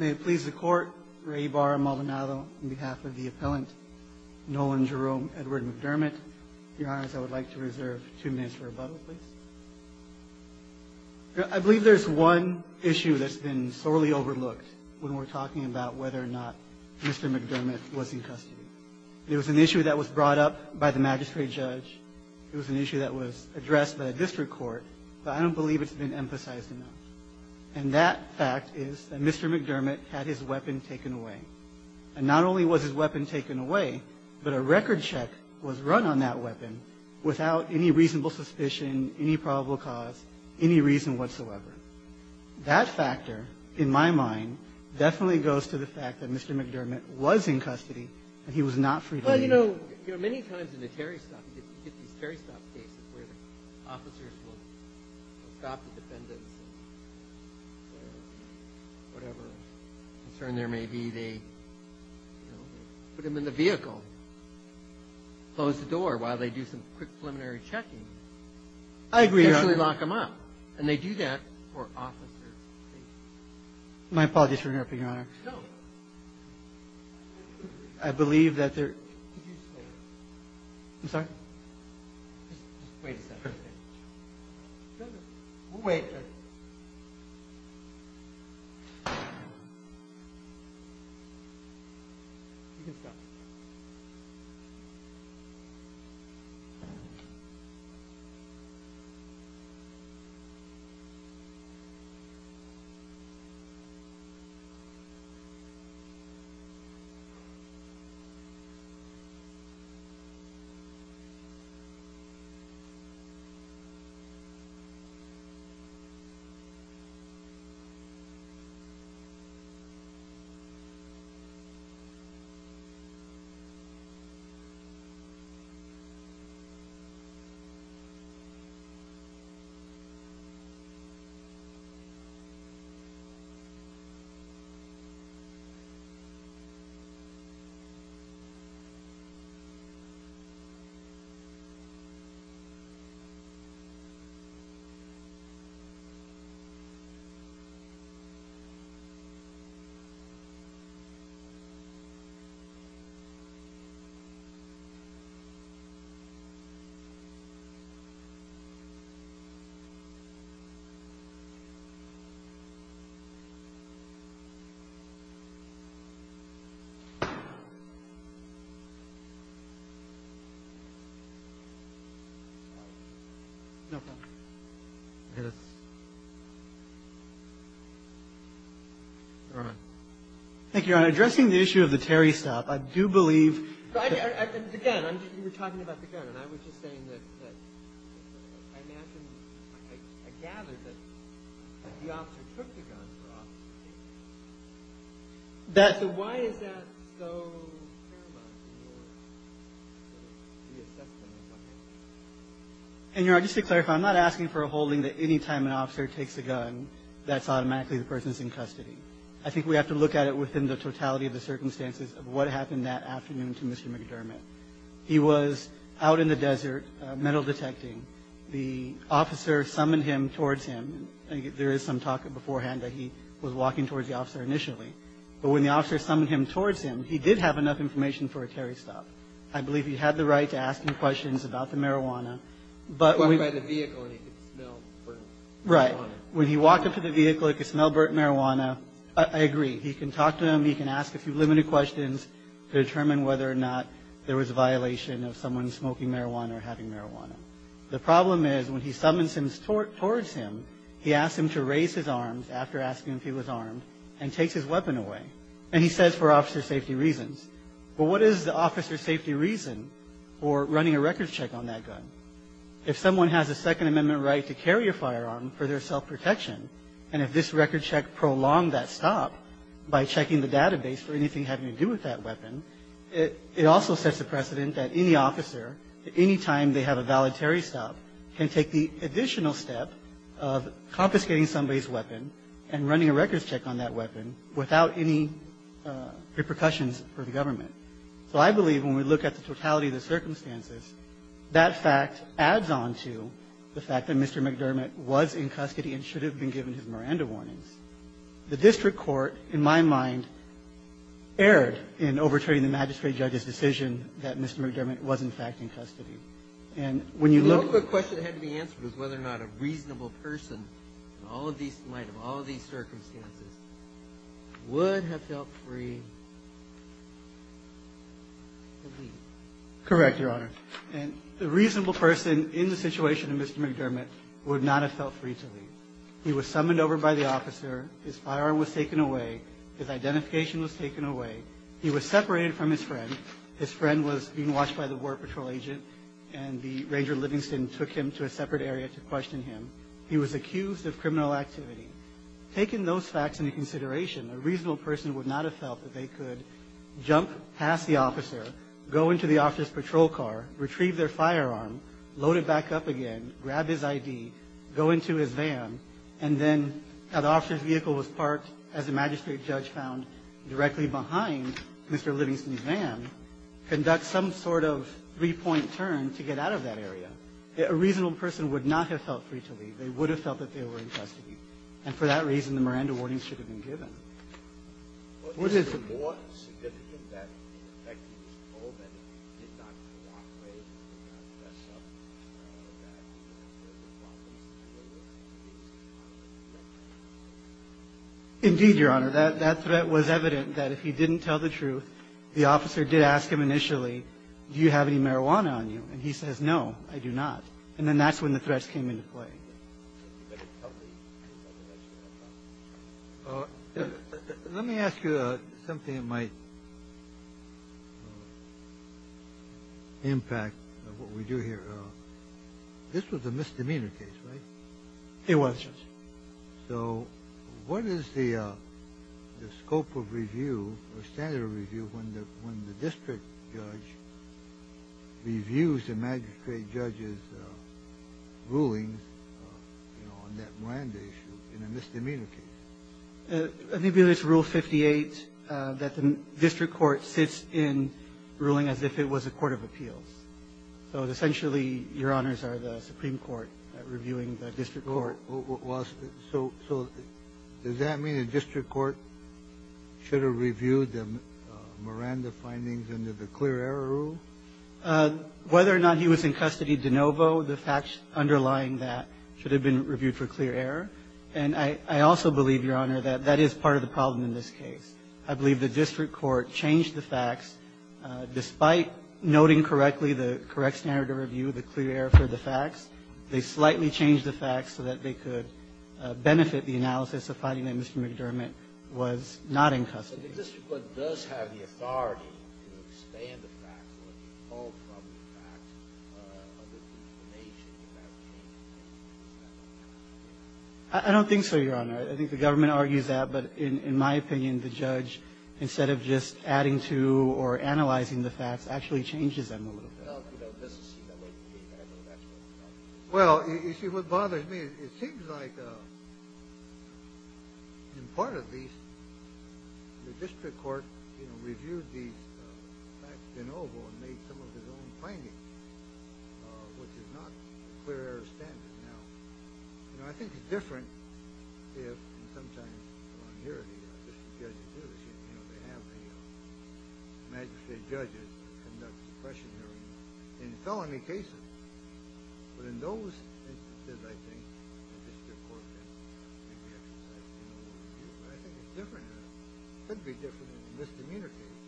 I believe there is one issue that has been sorely overlooked when we are talking about whether or not Mr. McDermott was in custody. It was an issue that was brought up by the I don't believe it's been emphasized enough. And that fact is that Mr. McDermott had his weapon taken away. And not only was his weapon taken away, but a record check was run on that weapon without any reasonable suspicion, any probable cause, any reason whatsoever. That factor, in my mind, definitely goes to the fact that Mr. McDermott was in custody and he was not freed. Well, you know, many times in the Terry stop, you get these Terry stop cases where the officers will stop the defendants or whatever concern there may be, they, you know, put them in the vehicle, close the door while they do some quick preliminary checking, and essentially lock them up. And they do that for officers. I believe that there. Yeah. Yeah. Thank you, Your Honor. Addressing the issue of the Terry stop, I do believe that the gun, you were talking about the gun, and I was just saying that I imagine, I gather that the officer took the gun for officers. So why is that so paramount in your reassessment of the case? And Your Honor, just to clarify, I'm not asking for a holding that anytime an officer takes a gun, that's automatically the person's in custody. I think we have to look at it within the totality of the circumstances of what happened that afternoon to Mr. McDermott. He was out in the desert metal detecting. The officer summoned him towards him. There is some talk beforehand that he was walking towards the officer initially. But when the officer summoned him towards him, he did have enough information for a Terry stop. I believe he had the right to ask him questions about the marijuana. But when he walked up to the vehicle, he could smell burnt marijuana. I agree. He can talk to him. He can ask a few limited questions to determine whether or not there was a violation of someone smoking marijuana or having marijuana. The problem is when he summons him towards him, he asks him to raise his arms after asking if he was armed and takes his weapon away. And he says for officer safety reasons. But what is the officer's safety reason for running a records check on that gun? If someone has a Second Amendment right to carry a firearm for their self-protection and if this records check prolonged that stop by checking the database for anything having to do with that weapon, it also sets a precedent that any officer, that any time they have a valid Terry stop, can take the additional step of confiscating somebody's weapon and running a records check on that weapon without any repercussions for the government. So I believe when we look at the totality of the circumstances, that fact adds on to the fact that Mr. McDermott was in custody and should have been given his Miranda warnings. The district court, in my mind, erred in overturning the magistrate judge's decision that Mr. McDermott was in fact in custody. And when you look... The only question that had to be answered was whether or not a reasonable person in light of all of these circumstances would have felt free to leave. Correct, Your Honor. And a reasonable person in the situation of Mr. McDermott would not have felt free to leave. He was summoned over by the officer. His firearm was taken away. His identification was taken away. He was separated from his friend. His friend was being watched by the war patrol agent. And the Ranger Livingston took him to a separate area to question him. He was accused of criminal activity. Taking those facts into consideration, a reasonable person would not have felt that they could jump past the officer, go into the officer's patrol car, retrieve their firearm, load it back up again, grab his ID, go into his van, and then have the officer's vehicle was parked, as the magistrate judge found, directly behind Mr. McDermott, conduct some sort of three-point turn to get out of that area. A reasonable person would not have felt free to leave. They would have felt that they were in custody. And for that reason, the Miranda warnings should have been given. What is the... Indeed, Your Honor. That threat was evident that if he didn't tell the truth, the officer did ask him initially, do you have any marijuana on you? And he says, no, I do not. And then that's when the threats came into play. Let me ask you something that might impact what we do here. This was a misdemeanor case, right? It was, Judge. So what is the scope of review or standard of review when the district judge reviews the magistrate judge's rulings on that Miranda issue in a misdemeanor case? Maybe it's Rule 58 that the district court sits in ruling as if it was a court of appeals. So essentially, Your Honors, are the Supreme Court reviewing the district court. So does that mean the district court should have reviewed the Miranda findings under the clear error rule? Whether or not he was in custody de novo, the facts underlying that should have been reviewed for clear error. And I also believe, Your Honor, that that is part of the problem in this case. I believe the district court changed the facts. Despite noting correctly the correct standard of review, the clear error for the facts, they slightly changed the facts so that they could benefit the analysis of finding that Mr. McDermott was not in custody. So the district court does have the authority to expand the facts or to pull from the facts of the information that came in. Is that correct? I don't think so, Your Honor. I think the government argues that. But in my opinion, the judge, instead of just adding to or analyzing the facts, actually changes them a little bit. I don't know. Well, you see, what bothers me, it seems like, in part at least, the district court reviewed these facts de novo and made some of his own findings, which is not clear error standard. Now, I think it's different if, and sometimes I hear it here, you know, they have the magistrate judges conduct discretionary and felony cases. But in those instances, I think the district court can maybe exercise a little more review. But I think it's different. It could be different in the misdemeanor case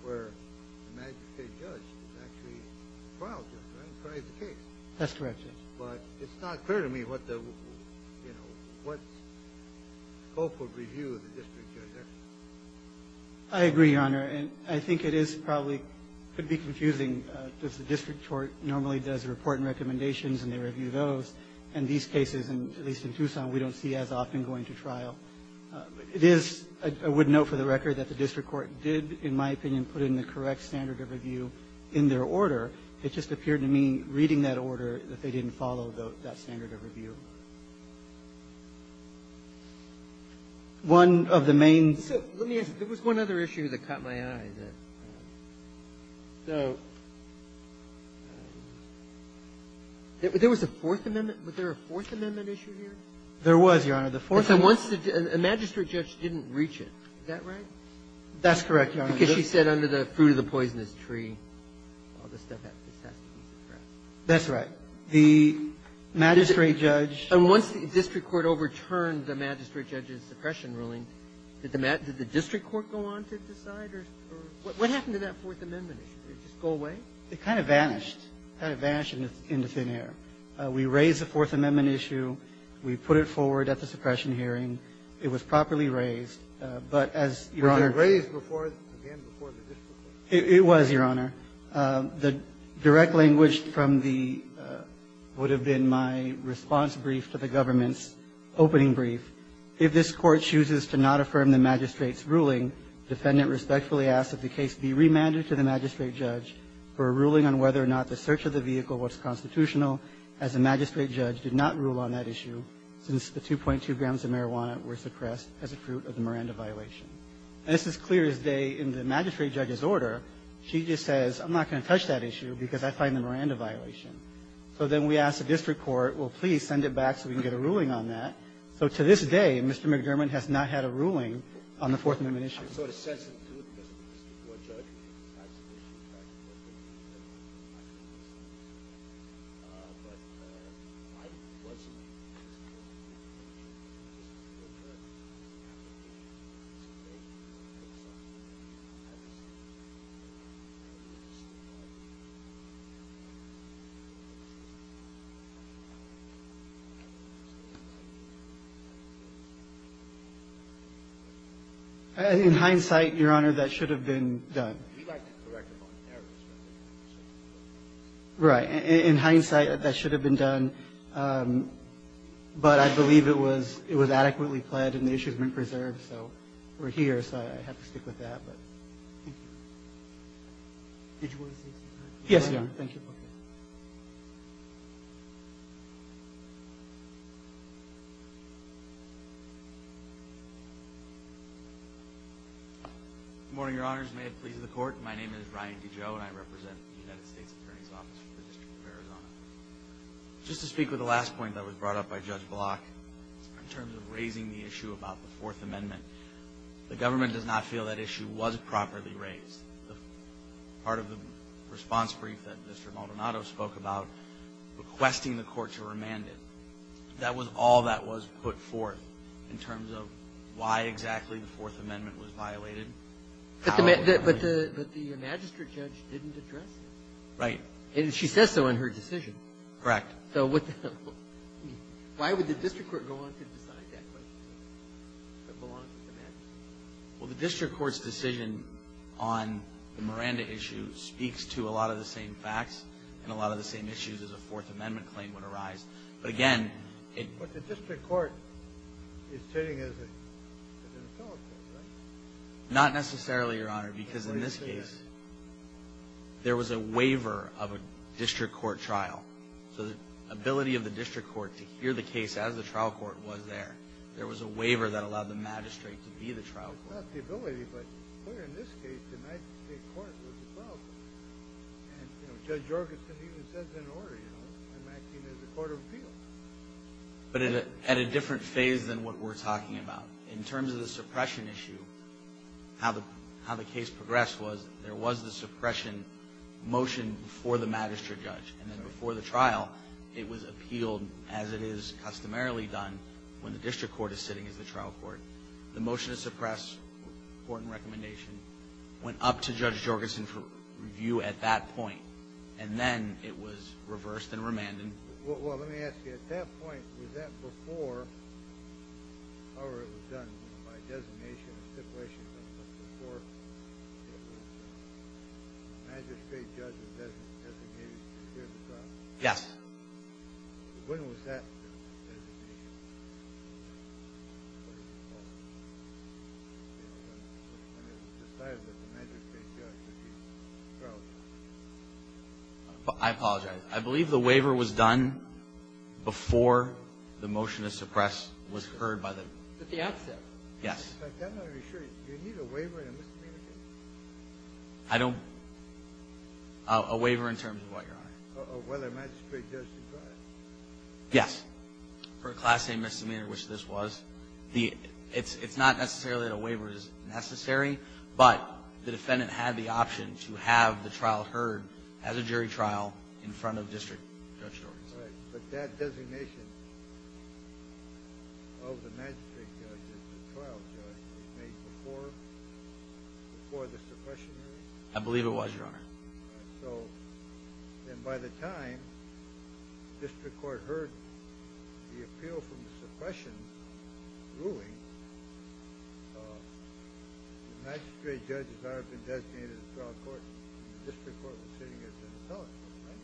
where the magistrate judge is actually the trial judge, right, and tries the case. That's correct, Judge. But it's not clear to me what the, you know, what scope of review the district judge has. I agree, Your Honor. And I think it is probably going to be confusing because the district court normally does a report and recommendations, and they review those. And these cases, at least in Tucson, we don't see as often going to trial. It is, I would note for the record, that the district court did, in my opinion, put in the correct standard of review in their order. It just appeared to me, reading that order, that they didn't follow that standard of review. One of the main issues. Let me ask you. There was one other issue that caught my eye. So there was a Fourth Amendment. Was there a Fourth Amendment issue here? There was, Your Honor. The Fourth Amendment. Is that right? That's correct, Your Honor. Because she said under the fruit of the poisonous tree, all this stuff has to be suppressed. That's right. The magistrate judge. And once the district court overturned the magistrate judge's suppression ruling, did the district court go on to decide? Or what happened to that Fourth Amendment issue? Did it just go away? It kind of vanished. It kind of vanished into thin air. We raised the Fourth Amendment issue. We put it forward at the suppression hearing. It was properly raised. But as, Your Honor. It was raised before, again, before the district court. It was, Your Honor. The direct language from the, would have been my response brief to the government's opening brief, if this Court chooses to not affirm the magistrate's ruling, defendant respectfully asks that the case be remanded to the magistrate judge for a ruling on whether or not the search of the vehicle was constitutional, as the magistrate judge did not rule on that issue, since the 2.2 grams of marijuana were suppressed as a fruit of the Miranda violation. And this is clear as day in the magistrate judge's order. She just says, I'm not going to touch that issue because I find the Miranda violation. So then we ask the district court, well, please send it back so we can get a ruling on that. So to this day, Mr. McDermott has not had a ruling on the Fourth Amendment issue. I'm sort of sensitive to it because the district court judge has an issue, in fact, with it. But I wasn't. In hindsight, Your Honor, that should have been done. Right. In hindsight, that should have been done. But I believe it was adequately pled and the issue has been preserved. So we're here. So I have to stick with that. But thank you. Did you want to say something? Yes, Your Honor. Thank you. Good morning, Your Honors. May it please the Court. My name is Ryan DiGio and I represent the United States Attorney's Office for the District of Arizona. Just to speak with the last point that was brought up by Judge Block in terms of raising the issue about the Fourth Amendment, the government does not feel that issue was properly raised. Part of the response brief that Mr. Maldonado spoke about, requesting the court to remand it, that was all that was put forth in terms of why exactly the Fourth Amendment was violated. But the magistrate judge didn't address it. Right. And she says so in her decision. Correct. So why would the district court go on to decide that? Well, the district court's decision on the Miranda issue speaks to a lot of the same facts and a lot of the same issues as a Fourth Amendment claim would arise. But the district court is sitting as an appellate, right? Not necessarily, Your Honor, because in this case there was a waiver of a district court trial. So the ability of the district court to hear the case as the trial court was there, there was a waiver that allowed the magistrate to be the trial court. Not the ability, but in this case the magistrate court was the trial court. And, you know, Judge Jorgensen even says in order, you know, I'm acting as a court of appeals. But at a different phase than what we're talking about. In terms of the suppression issue, how the case progressed was there was the suppression motion for the magistrate judge. And then before the trial, it was appealed as it is customarily done when the district court is sitting as the trial court. The motion to suppress court and recommendation went up to Judge Jorgensen for review at that point. And then it was reversed and remanded. Well, let me ask you. At that point, was that before, or it was done by designation, stipulation, but before the magistrate judge was designated to hear the trial? Yes. I apologize. I believe the waiver was done before the motion to suppress was heard by the judge. Yes. I don't know. Yes. For a class-A misdemeanor, which this was. It's not necessarily that a waiver is necessary, but the defendant had the option to have the trial heard as a jury trial in front of district judge Jorgensen. Right. But that designation of the magistrate judge as the trial judge was made before the suppression hearing? I believe it was, Your Honor. All right. So then by the time the district court heard the appeal from the suppression ruling, the magistrate judge had already been designated as a trial court, and the district court was sitting as an appellate. Right?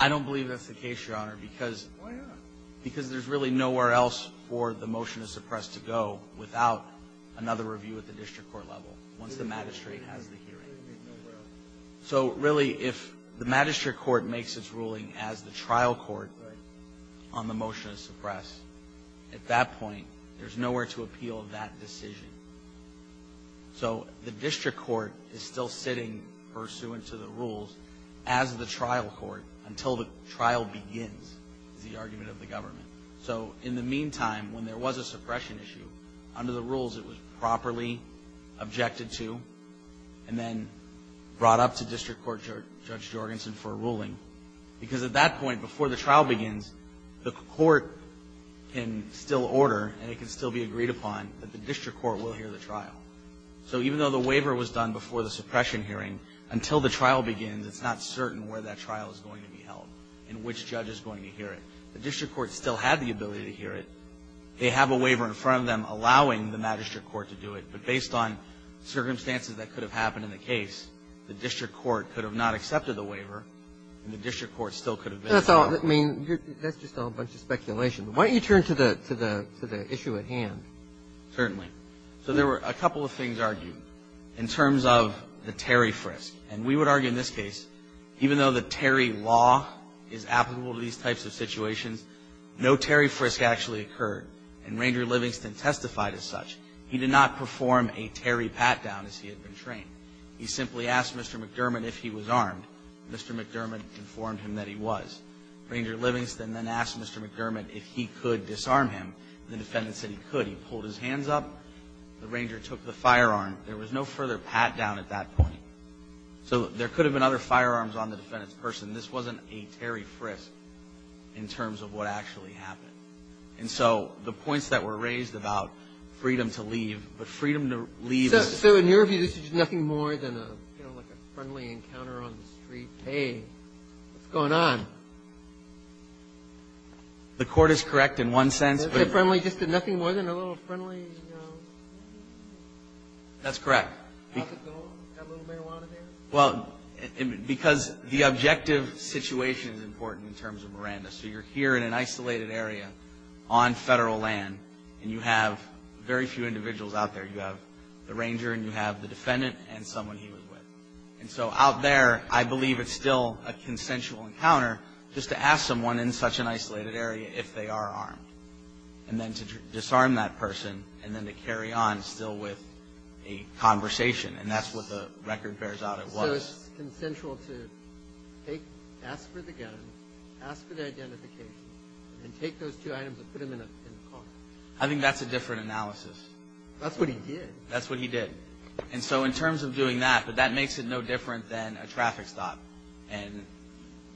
I don't believe that's the case, Your Honor. Why not? Because there's really nowhere else for the motion to suppress to go without another review at the district court level once the magistrate has the hearing. So really, if the magistrate court makes its ruling as the trial court on the motion to suppress, at that point, there's nowhere to appeal that decision. So the district court is still sitting pursuant to the rules as the trial court until the trial begins, is the argument of the government. So in the meantime, when there was a suppression issue, under the rules it was brought up to district court Judge Jorgensen for a ruling. Because at that point, before the trial begins, the court can still order, and it can still be agreed upon, that the district court will hear the trial. So even though the waiver was done before the suppression hearing, until the trial begins, it's not certain where that trial is going to be held and which judge is going to hear it. The district court still had the ability to hear it. They have a waiver in front of them allowing the magistrate court to do it. But based on circumstances that could have happened in the case, the district court could have not accepted the waiver, and the district court still could have been held. I mean, that's just all a bunch of speculation. Why don't you turn to the issue at hand? Certainly. So there were a couple of things argued in terms of the Terry frisk. And we would argue in this case, even though the Terry law is applicable to these types of situations, no Terry frisk actually occurred. And Ranger Livingston testified as such. He did not perform a Terry pat-down as he had been trained. He simply asked Mr. McDermott if he was armed. Mr. McDermott informed him that he was. Ranger Livingston then asked Mr. McDermott if he could disarm him. The defendant said he could. He pulled his hands up. The Ranger took the firearm. There was no further pat-down at that point. So there could have been other firearms on the defendant's person. This wasn't a Terry frisk in terms of what actually happened. And so the points that were raised about freedom to leave, but freedom to leave is. So in your view, this is nothing more than a, you know, like a friendly encounter on the street. Hey, what's going on? The court is correct in one sense. Nothing more than a little friendly, you know. That's correct. How's it going? Got a little marijuana there? Well, because the objective situation is important in terms of Miranda. So you're here in an isolated area on Federal land, and you have very few individuals out there. You have the Ranger, and you have the defendant, and someone he was with. And so out there, I believe it's still a consensual encounter just to ask someone in such an isolated area if they are armed, and then to disarm that person, and then to carry on still with a conversation. And that's what the record bears out it was. That's consensual to ask for the gun, ask for the identification, and take those two items and put them in the car. I think that's a different analysis. That's what he did. That's what he did. And so in terms of doing that, but that makes it no different than a traffic stop. And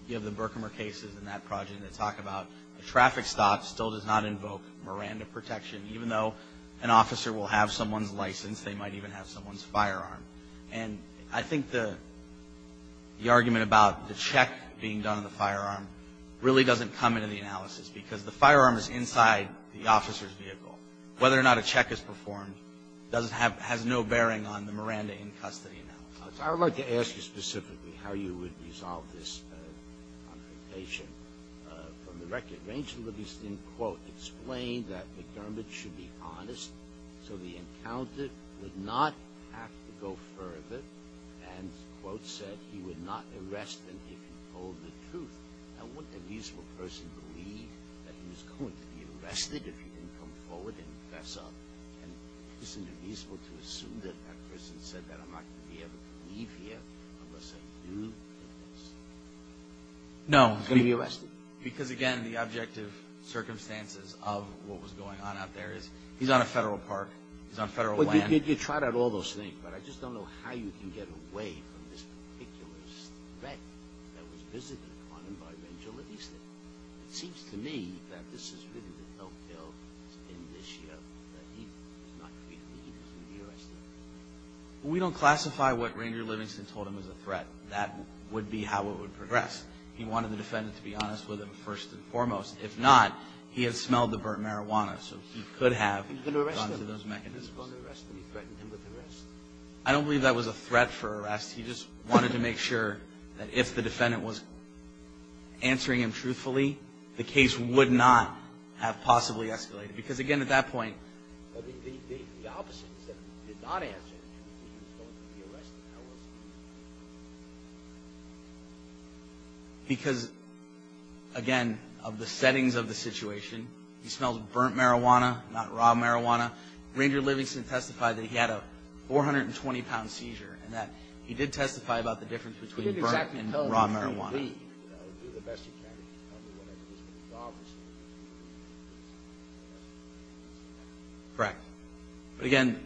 you have the Berkmer cases in that project that talk about a traffic stop still does not invoke Miranda protection. Even though an officer will have someone's license, they might even have someone's firearm. And I think the argument about the check being done on the firearm really doesn't come into the analysis because the firearm is inside the officer's vehicle. Whether or not a check is performed doesn't have no bearing on the Miranda in custody analysis. I would like to ask you specifically how you would resolve this confrontation from the record. Ranger Livingston, quote, explained that McDermott should be honest, so the encounter would not have to go further. And, quote, said he would not arrest him if he told the truth. Now, wouldn't a reasonable person believe that he was going to be arrested if he didn't come forward and confess up? And isn't it reasonable to assume that that person said that? I'm not going to be able to leave here unless I do confess. No. He's going to be arrested. Because, again, the objective circumstances of what was going on out there is he's on a federal park. He's on federal land. Well, you tried out all those things, but I just don't know how you can get away from this particular threat that was visited upon him by Ranger Livingston. It seems to me that this is really the no-kill in this year that he is not going to be arrested. We don't classify what Ranger Livingston told him as a threat. That would be how it would progress. He wanted the defendant to be honest with him first and foremost. If not, he had smelled the burnt marijuana, so he could have gone to those mechanisms. He was going to arrest him. He threatened him with arrest. I don't believe that was a threat for arrest. He just wanted to make sure that if the defendant was answering him truthfully, the case would not have possibly escalated. Because, again, at that point, because, again, of the settings of the situation, he smells burnt marijuana, not raw marijuana. Ranger Livingston testified that he had a 420-pound seizure, and that he did testify about the difference between burnt and raw marijuana. Correct. But, again,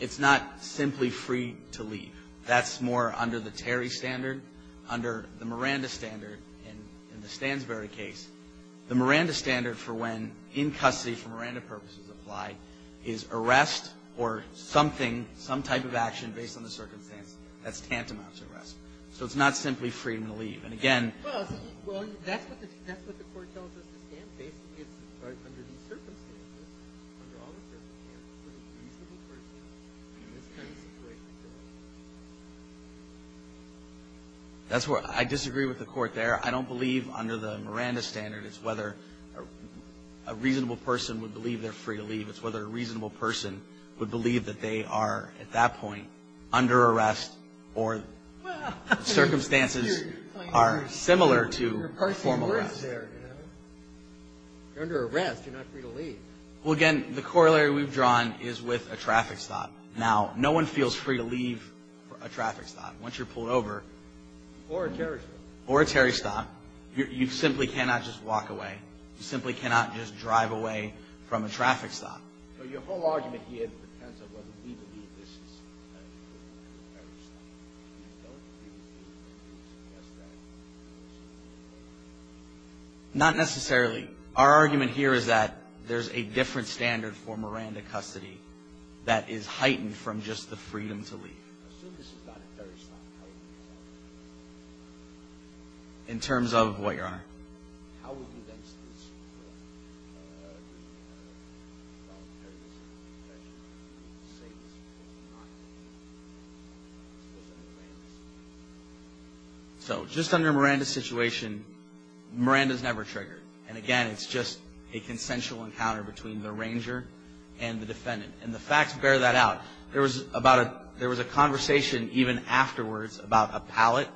it's not simply free to leave. That's more under the Terry standard. Under the Miranda standard in the Stansberry case, the Miranda standard for when in custody for Miranda purposes apply is arrest or something, some type of action based on the circumstances. That's tantamount to arrest. So it's not simply freedom to leave. And, again — Well, that's what the court tells us the stand states. It's under the circumstances, under all the circumstances, for a reasonable person in this kind of situation to leave. That's where I disagree with the court there. I don't believe under the Miranda standard it's whether a reasonable person would believe they're free to leave. It's whether a reasonable person would believe that they are, at that point, under arrest or circumstances are similar to formal arrest. You're under arrest. You're not free to leave. Well, again, the corollary we've drawn is with a traffic stop. Now, no one feels free to leave a traffic stop once you're pulled over. Or a Terry stop. Or a Terry stop. You simply cannot just walk away. You simply cannot just drive away from a traffic stop. So your whole argument here, the pretense of whether we believe this is a Terry stop, you don't really feel free to suggest that? Not necessarily. Our argument here is that there's a different standard for Miranda custody that is heightened from just the freedom to leave. Assume this is not a Terry stop. In terms of what, Your Honor? How would you then state this? So just under Miranda's situation, Miranda's never triggered. And, again, it's just a consensual encounter between the ranger and the defendant. And the facts bear that out. There was a conversation even afterwards about a pallet.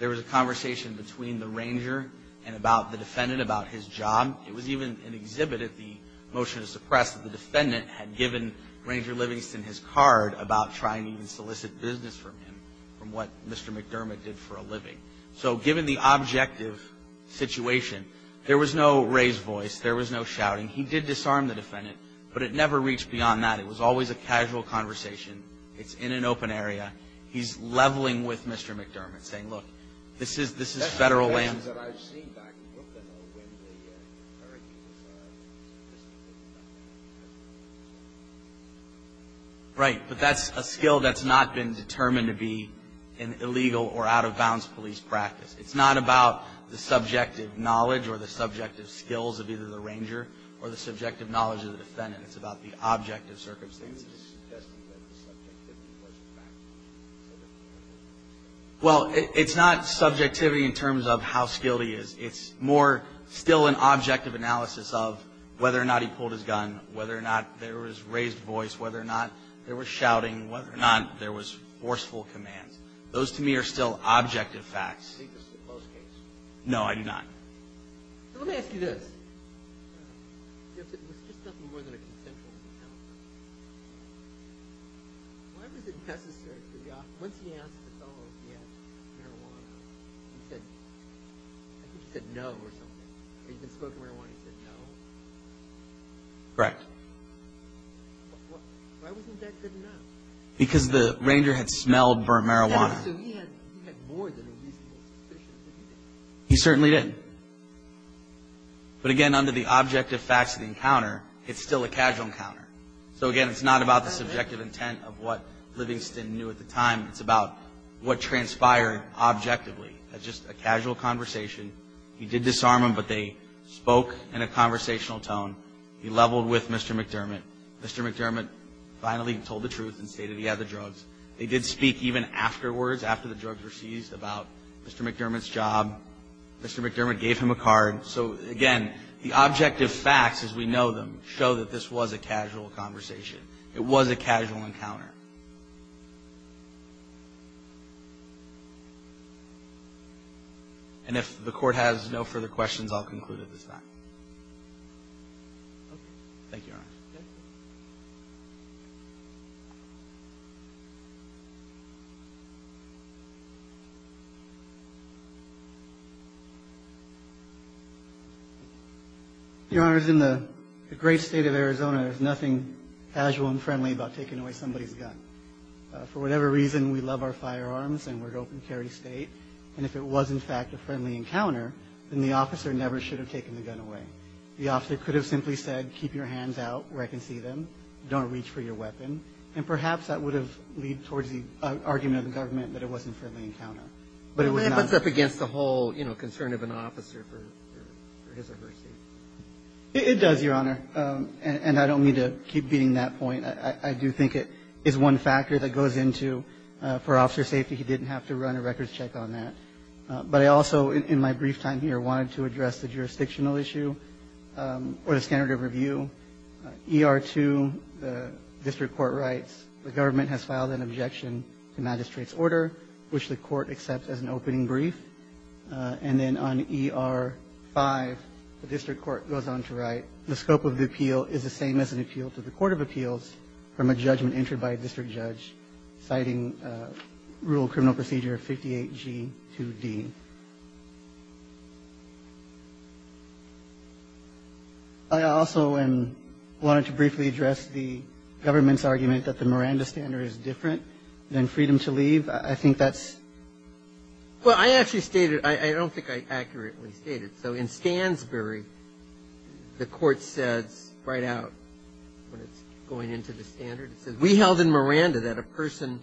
There was a conversation between the ranger and the defendant about his job. It was even exhibited, the motion to suppress, that the defendant had given ranger Livingston his card about trying to even solicit business from him, from what Mr. McDermott did for a living. So given the objective situation, there was no raised voice. There was no shouting. He did disarm the defendant. But it never reached beyond that. It was always a casual conversation. It's in an open area. He's leveling with Mr. McDermott, saying, look, this is federal land. That's the case that I've seen back in Brooklyn, though, when the sheriff was soliciting things back in Brooklyn. Right. But that's a skill that's not been determined to be an illegal or out-of-bounds police practice. It's not about the subjective knowledge or the subjective skills of either the ranger or the subjective knowledge of the defendant. It's about the objective circumstances. Well, it's not subjectivity in terms of how skilled he is. It's more still an objective analysis of whether or not he pulled his gun, whether or not there was raised voice, whether or not there was shouting, whether or not there was forceful commands. Those to me are still objective facts. No, I do not. Let me ask you this. If it was just nothing more than a consensual encounter, why was it necessary for the officer, once he asked the fellow if he had marijuana, he said, I think he said no or something. Or he'd been smoking marijuana, he said no. Correct. Why wasn't that good enough? Because the ranger had smelled burnt marijuana. So he had more than a reasonable suspicion that he did. He certainly didn't. But, again, under the objective facts of the encounter, it's still a casual encounter. So, again, it's not about the subjective intent of what Livingston knew at the time. It's about what transpired objectively as just a casual conversation. He did disarm him, but they spoke in a conversational tone. He leveled with Mr. McDermott. Mr. McDermott finally told the truth and stated he had the drugs. They did speak even afterwards, after the drugs were seized, about Mr. McDermott's job. Mr. McDermott gave him a card. So, again, the objective facts as we know them show that this was a casual conversation. It was a casual encounter. And if the Court has no further questions, I'll conclude at this time. Thank you, Your Honor. Okay. Your Honor, in the great State of Arizona, there's nothing casual and friendly about taking away somebody's gun. For whatever reason, we love our firearms and we're an open carry State. And if it was, in fact, a friendly encounter, then the officer never should have taken the gun away. The officer could have simply said, keep your hands out where I can see them. Don't reach for your weapon. And perhaps that would have led towards the argument of the government that it wasn't a friendly encounter. But it was not. It puts up against the whole, you know, concern of an officer for his or her safety. It does, Your Honor. And I don't mean to keep beating that point. I do think it is one factor that goes into, for officer safety, he didn't have to run a records check on that. But I also, in my brief time here, wanted to address the jurisdictional issue or the standard of review. ER2, the district court writes, the government has filed an objection to magistrate's order, which the court accepts as an opening brief. And then on ER5, the district court goes on to write, the scope of the appeal is the same as an appeal to the court of appeals from a judgment entered by a district judge, citing Rural Criminal Procedure 58G2D. I also wanted to briefly address the government's argument that the Miranda standard is different than freedom to leave. I think that's ‑‑ Well, I actually stated, I don't think I accurately stated. So in Stansbury, the court says right out when it's going into the standard, it says, be held in Miranda that a person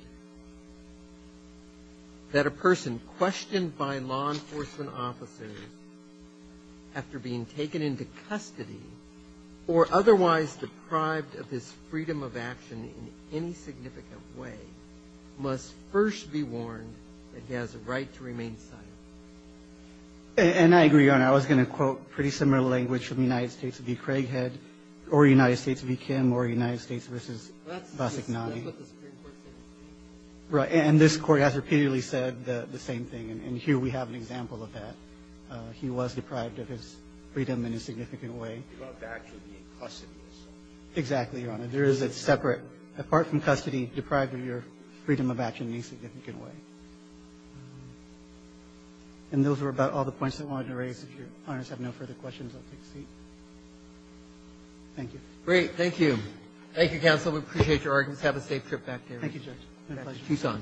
questioned by law enforcement officers after being taken into custody or otherwise deprived of his freedom of action in any significant way must first be warned that he has a right to remain silent. And I agree, Your Honor. I was going to quote pretty similar language from the United States v. Craighead or United States v. McNally. And this Court has repeatedly said the same thing. And here we have an example of that. He was deprived of his freedom in a significant way. Exactly, Your Honor. There is a separate, apart from custody, deprived of your freedom of action in a significant way. And those were about all the points I wanted to raise. If Your Honors have no further questions, I'll take a seat. Thank you. Great. Thank you. Thank you, counsel. We appreciate your arguments. Have a safe trip back there. Thank you, Judge. Tucson.